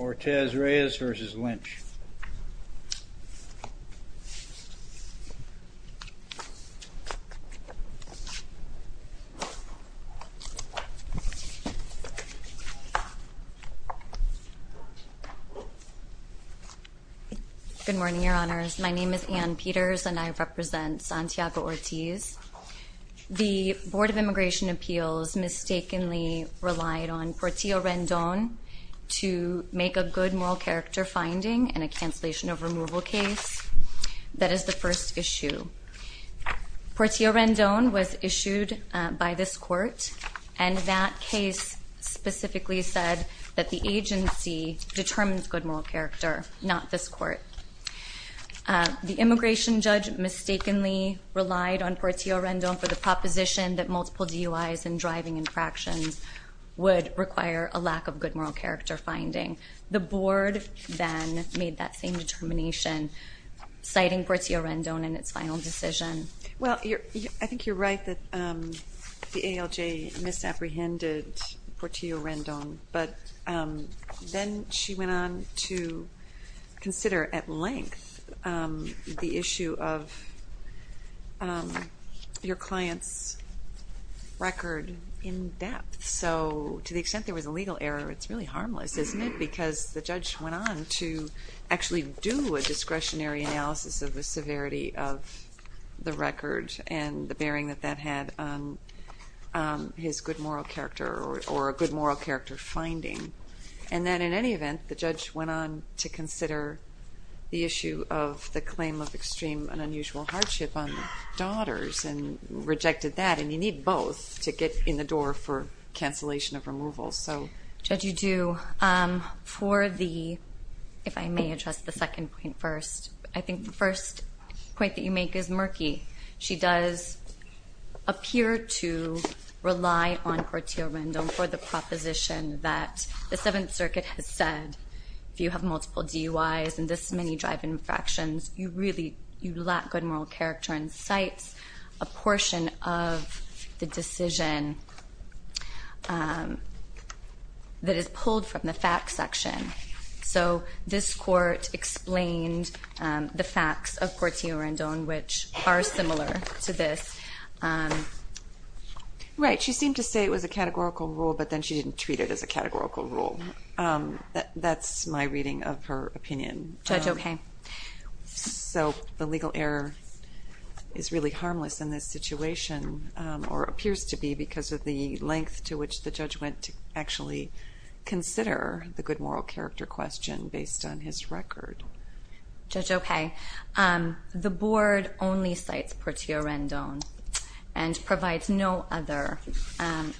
Ortiz-Reyes v. Lynch Good morning, Your Honors. My name is Ann Peters and I represent Santiago Ortiz. The Board of Immigration Appeals mistakenly relied on Portillo Rendon to make a good moral character finding in a cancellation of removal case. That is the first issue. Portillo Rendon was issued by this court and that case specifically said that the agency determines good moral character, not this court. The immigration judge mistakenly relied on Portillo Rendon for the proposition that multiple DUIs and driving infractions would require a lack of good moral character finding. The Board then made that same determination, citing Portillo Rendon in its final decision. Well, I think you're right that the ALJ misapprehended Portillo Rendon, but then she went on to consider at length the issue of your client's record in depth. So to the extent there was a legal error, it's really harmless, isn't it? Because the judge went on to actually do a discretionary analysis of the severity of the record and the bearing that that had on his good moral character or a good moral character finding. And then in any event, the judge went on to consider the issue of the claim of extreme and unusual hardship on the daughters and rejected that. And you need both to get in the door for cancellation of removal. Judge, you do. For the, if I may address the second point first, I think the first point that you make is murky. She does appear to rely on Portillo Rendon for the proposition that the Seventh Circuit has said, if you have multiple DUIs and this many driving infractions, you really, you lack good moral character and cites a portion of the decision that is pulled from the facts section. So this court explained the facts of Portillo Rendon, which are similar to this. Right. She seemed to say it was a categorical rule, but then she didn't treat it as a categorical rule. That's my reading of her opinion. Judge, okay. So the legal error is really harmless in this situation or appears to be because of the length to which the judge went to actually consider the good moral character question based on his record. Judge, okay. The board only cites Portillo Rendon and provides no other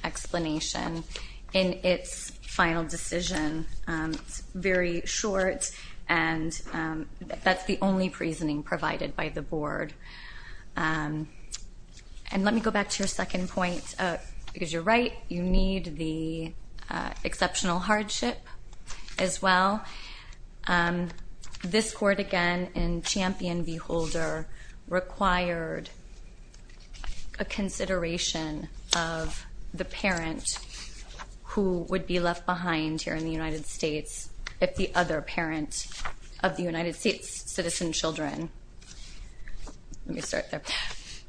explanation in its final decision. It's very short and that's the only reasoning provided by the board. And let me go back to your second point, because you're right, you need the exceptional hardship as well. This court, again, in Champion v. Holder, required a consideration of the parent who would be left behind here in the United States if the other parent of the United States' citizen children. Let me start there.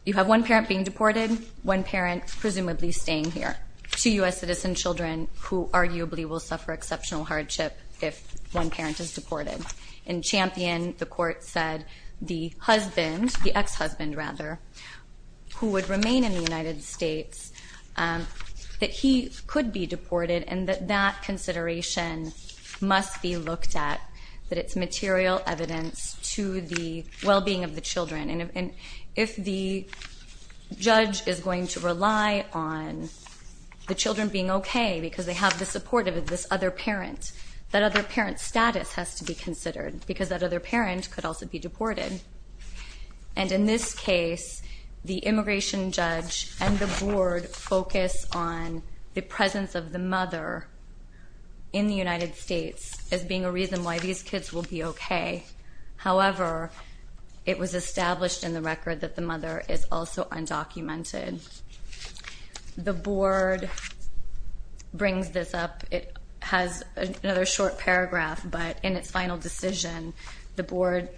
You have one parent being deported, one parent presumably staying here, two U.S. citizen children who arguably will suffer exceptional hardship if one parent is deported. In Champion, the court said the husband, the ex-husband rather, who would remain in the United States, that he could be deported and that that consideration must be looked at, that it's material evidence to the well-being of the children. And if the judge is going to rely on the children being okay because they have the support of this other parent, that other parent's status has to be considered, because that other parent could also be deported. And in this case, the immigration judge and the board focus on the presence of the mother in the United States as being a reason why these kids will be okay. However, it was established in the record that the mother is also undocumented. The board brings this up. It has another short paragraph, but in its final decision, the board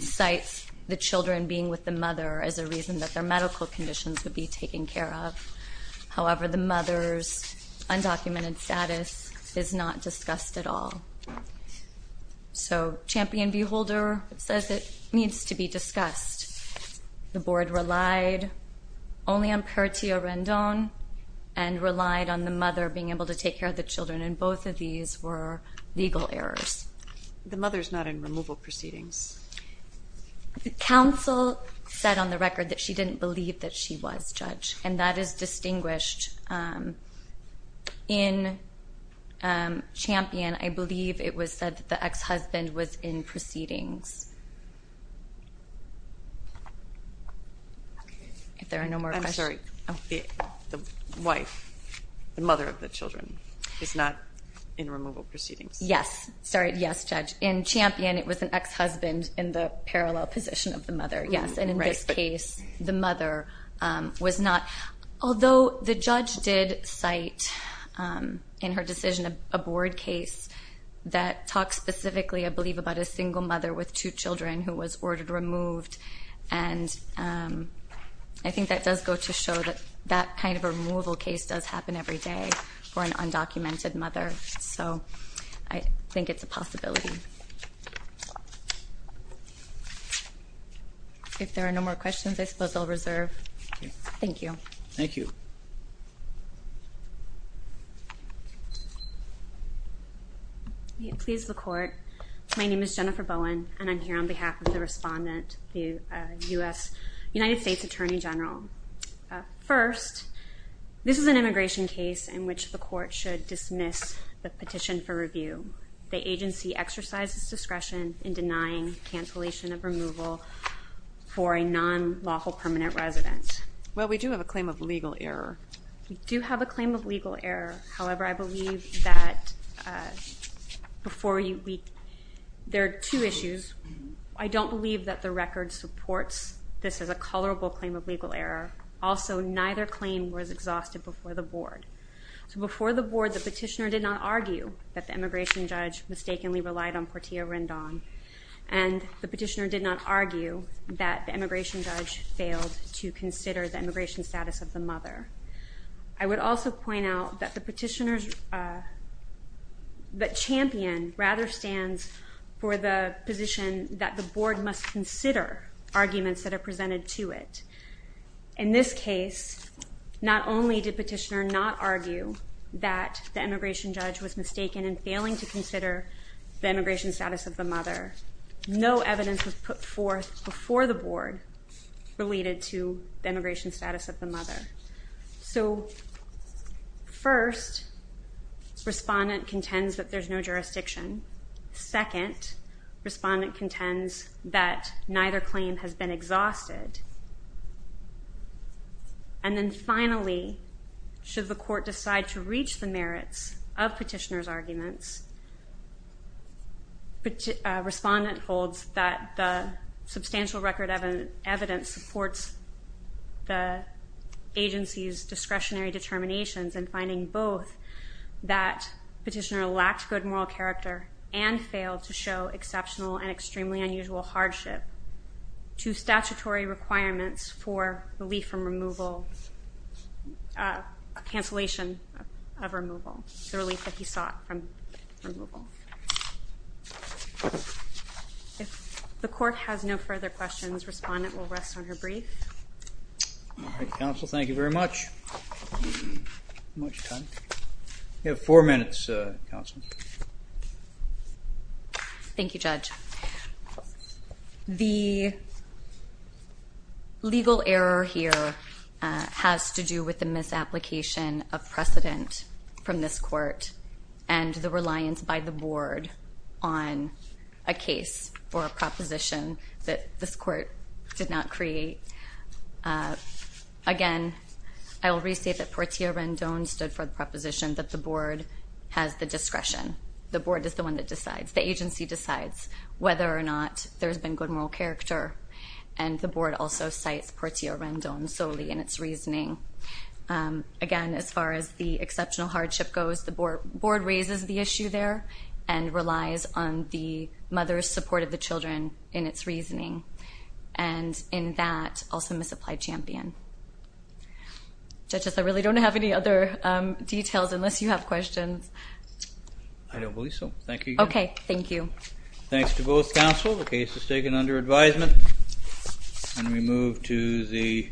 cites the children being with the mother as a reason that their medical conditions would be taken care of. However, the mother's undocumented status is not discussed at all. So Champion v. Holder says it needs to be discussed. The board relied only on Pertia Rendon and relied on the mother being able to take care of the children, and both of these were legal errors. The mother's not in removal proceedings. The counsel said on the record that she didn't believe that she was judged, and that is distinguished. In Champion, I believe it was said that the ex-husband was in proceedings. If there are no more questions. I'm sorry. The wife, the mother of the children, is not in removal proceedings. Yes. Sorry, yes, Judge. In Champion, it was an ex-husband in the parallel position of the mother, yes. And in this case, the mother was not. Although the judge did cite in her decision a board case that talks specifically, I believe, about a single mother with two children who was ordered removed. And I think that does go to show that that kind of removal case does happen every day for an undocumented mother. So I think it's a possibility. If there are no more questions, I suppose I'll reserve. Thank you. Thank you. Please, the court. My name is Jennifer Bowen, and I'm here on behalf of the respondent, the U.S. United States Attorney General. First, this is an immigration case in which the court should dismiss the petition for review. The agency exercises discretion in denying cancellation of removal for a non-lawful permanent resident. Well, we do have a claim of legal error. We do have a claim of legal error. However, I believe that there are two issues. I don't believe that the record supports this as a colorable claim of legal error. Also, neither claim was exhausted before the board. So before the board, the petitioner did not argue that the immigration judge mistakenly relied on Portia Rendon. And the petitioner did not argue that the immigration judge failed to consider the immigration status of the mother. I would also point out that the petitioner's champion rather stands for the position that the board must consider arguments that are presented to it. In this case, not only did the petitioner not argue that the immigration judge was mistaken in failing to consider the immigration status of the mother, no evidence was put forth before the board related to the immigration status of the mother. So first, respondent contends that there's no jurisdiction. Second, respondent contends that neither claim has been exhausted. And then finally, should the court decide to reach the merits of petitioner's arguments, respondent holds that the substantial record of evidence supports the agency's discretionary determinations in finding both that petitioner lacked good moral character and failed to show exceptional and extremely unusual hardship to statutory requirements for relief from removal, cancellation of removal, the relief that he sought from removal. If the court has no further questions, respondent will rest on her brief. All right, counsel, thank you very much. How much time? You have four minutes, counsel. Thank you, Judge. The legal error here has to do with the misapplication of precedent from this court and the reliance by the board on a case for a proposition that this court did not create. Again, I will restate that Portia Rendon stood for the proposition that the board has the discretion. The board is the one that decides. The agency decides whether or not there's been good moral character, and the board also cites Portia Rendon solely in its reasoning. Again, as far as the exceptional hardship goes, the board raises the issue there and relies on the mother's support of the children in its reasoning. And in that, also misapplied champion. Judge, I really don't have any other details unless you have questions. I don't believe so. Thank you. Okay, thank you. Thanks to both counsel. The case is taken under advisement, and we move to the hearing.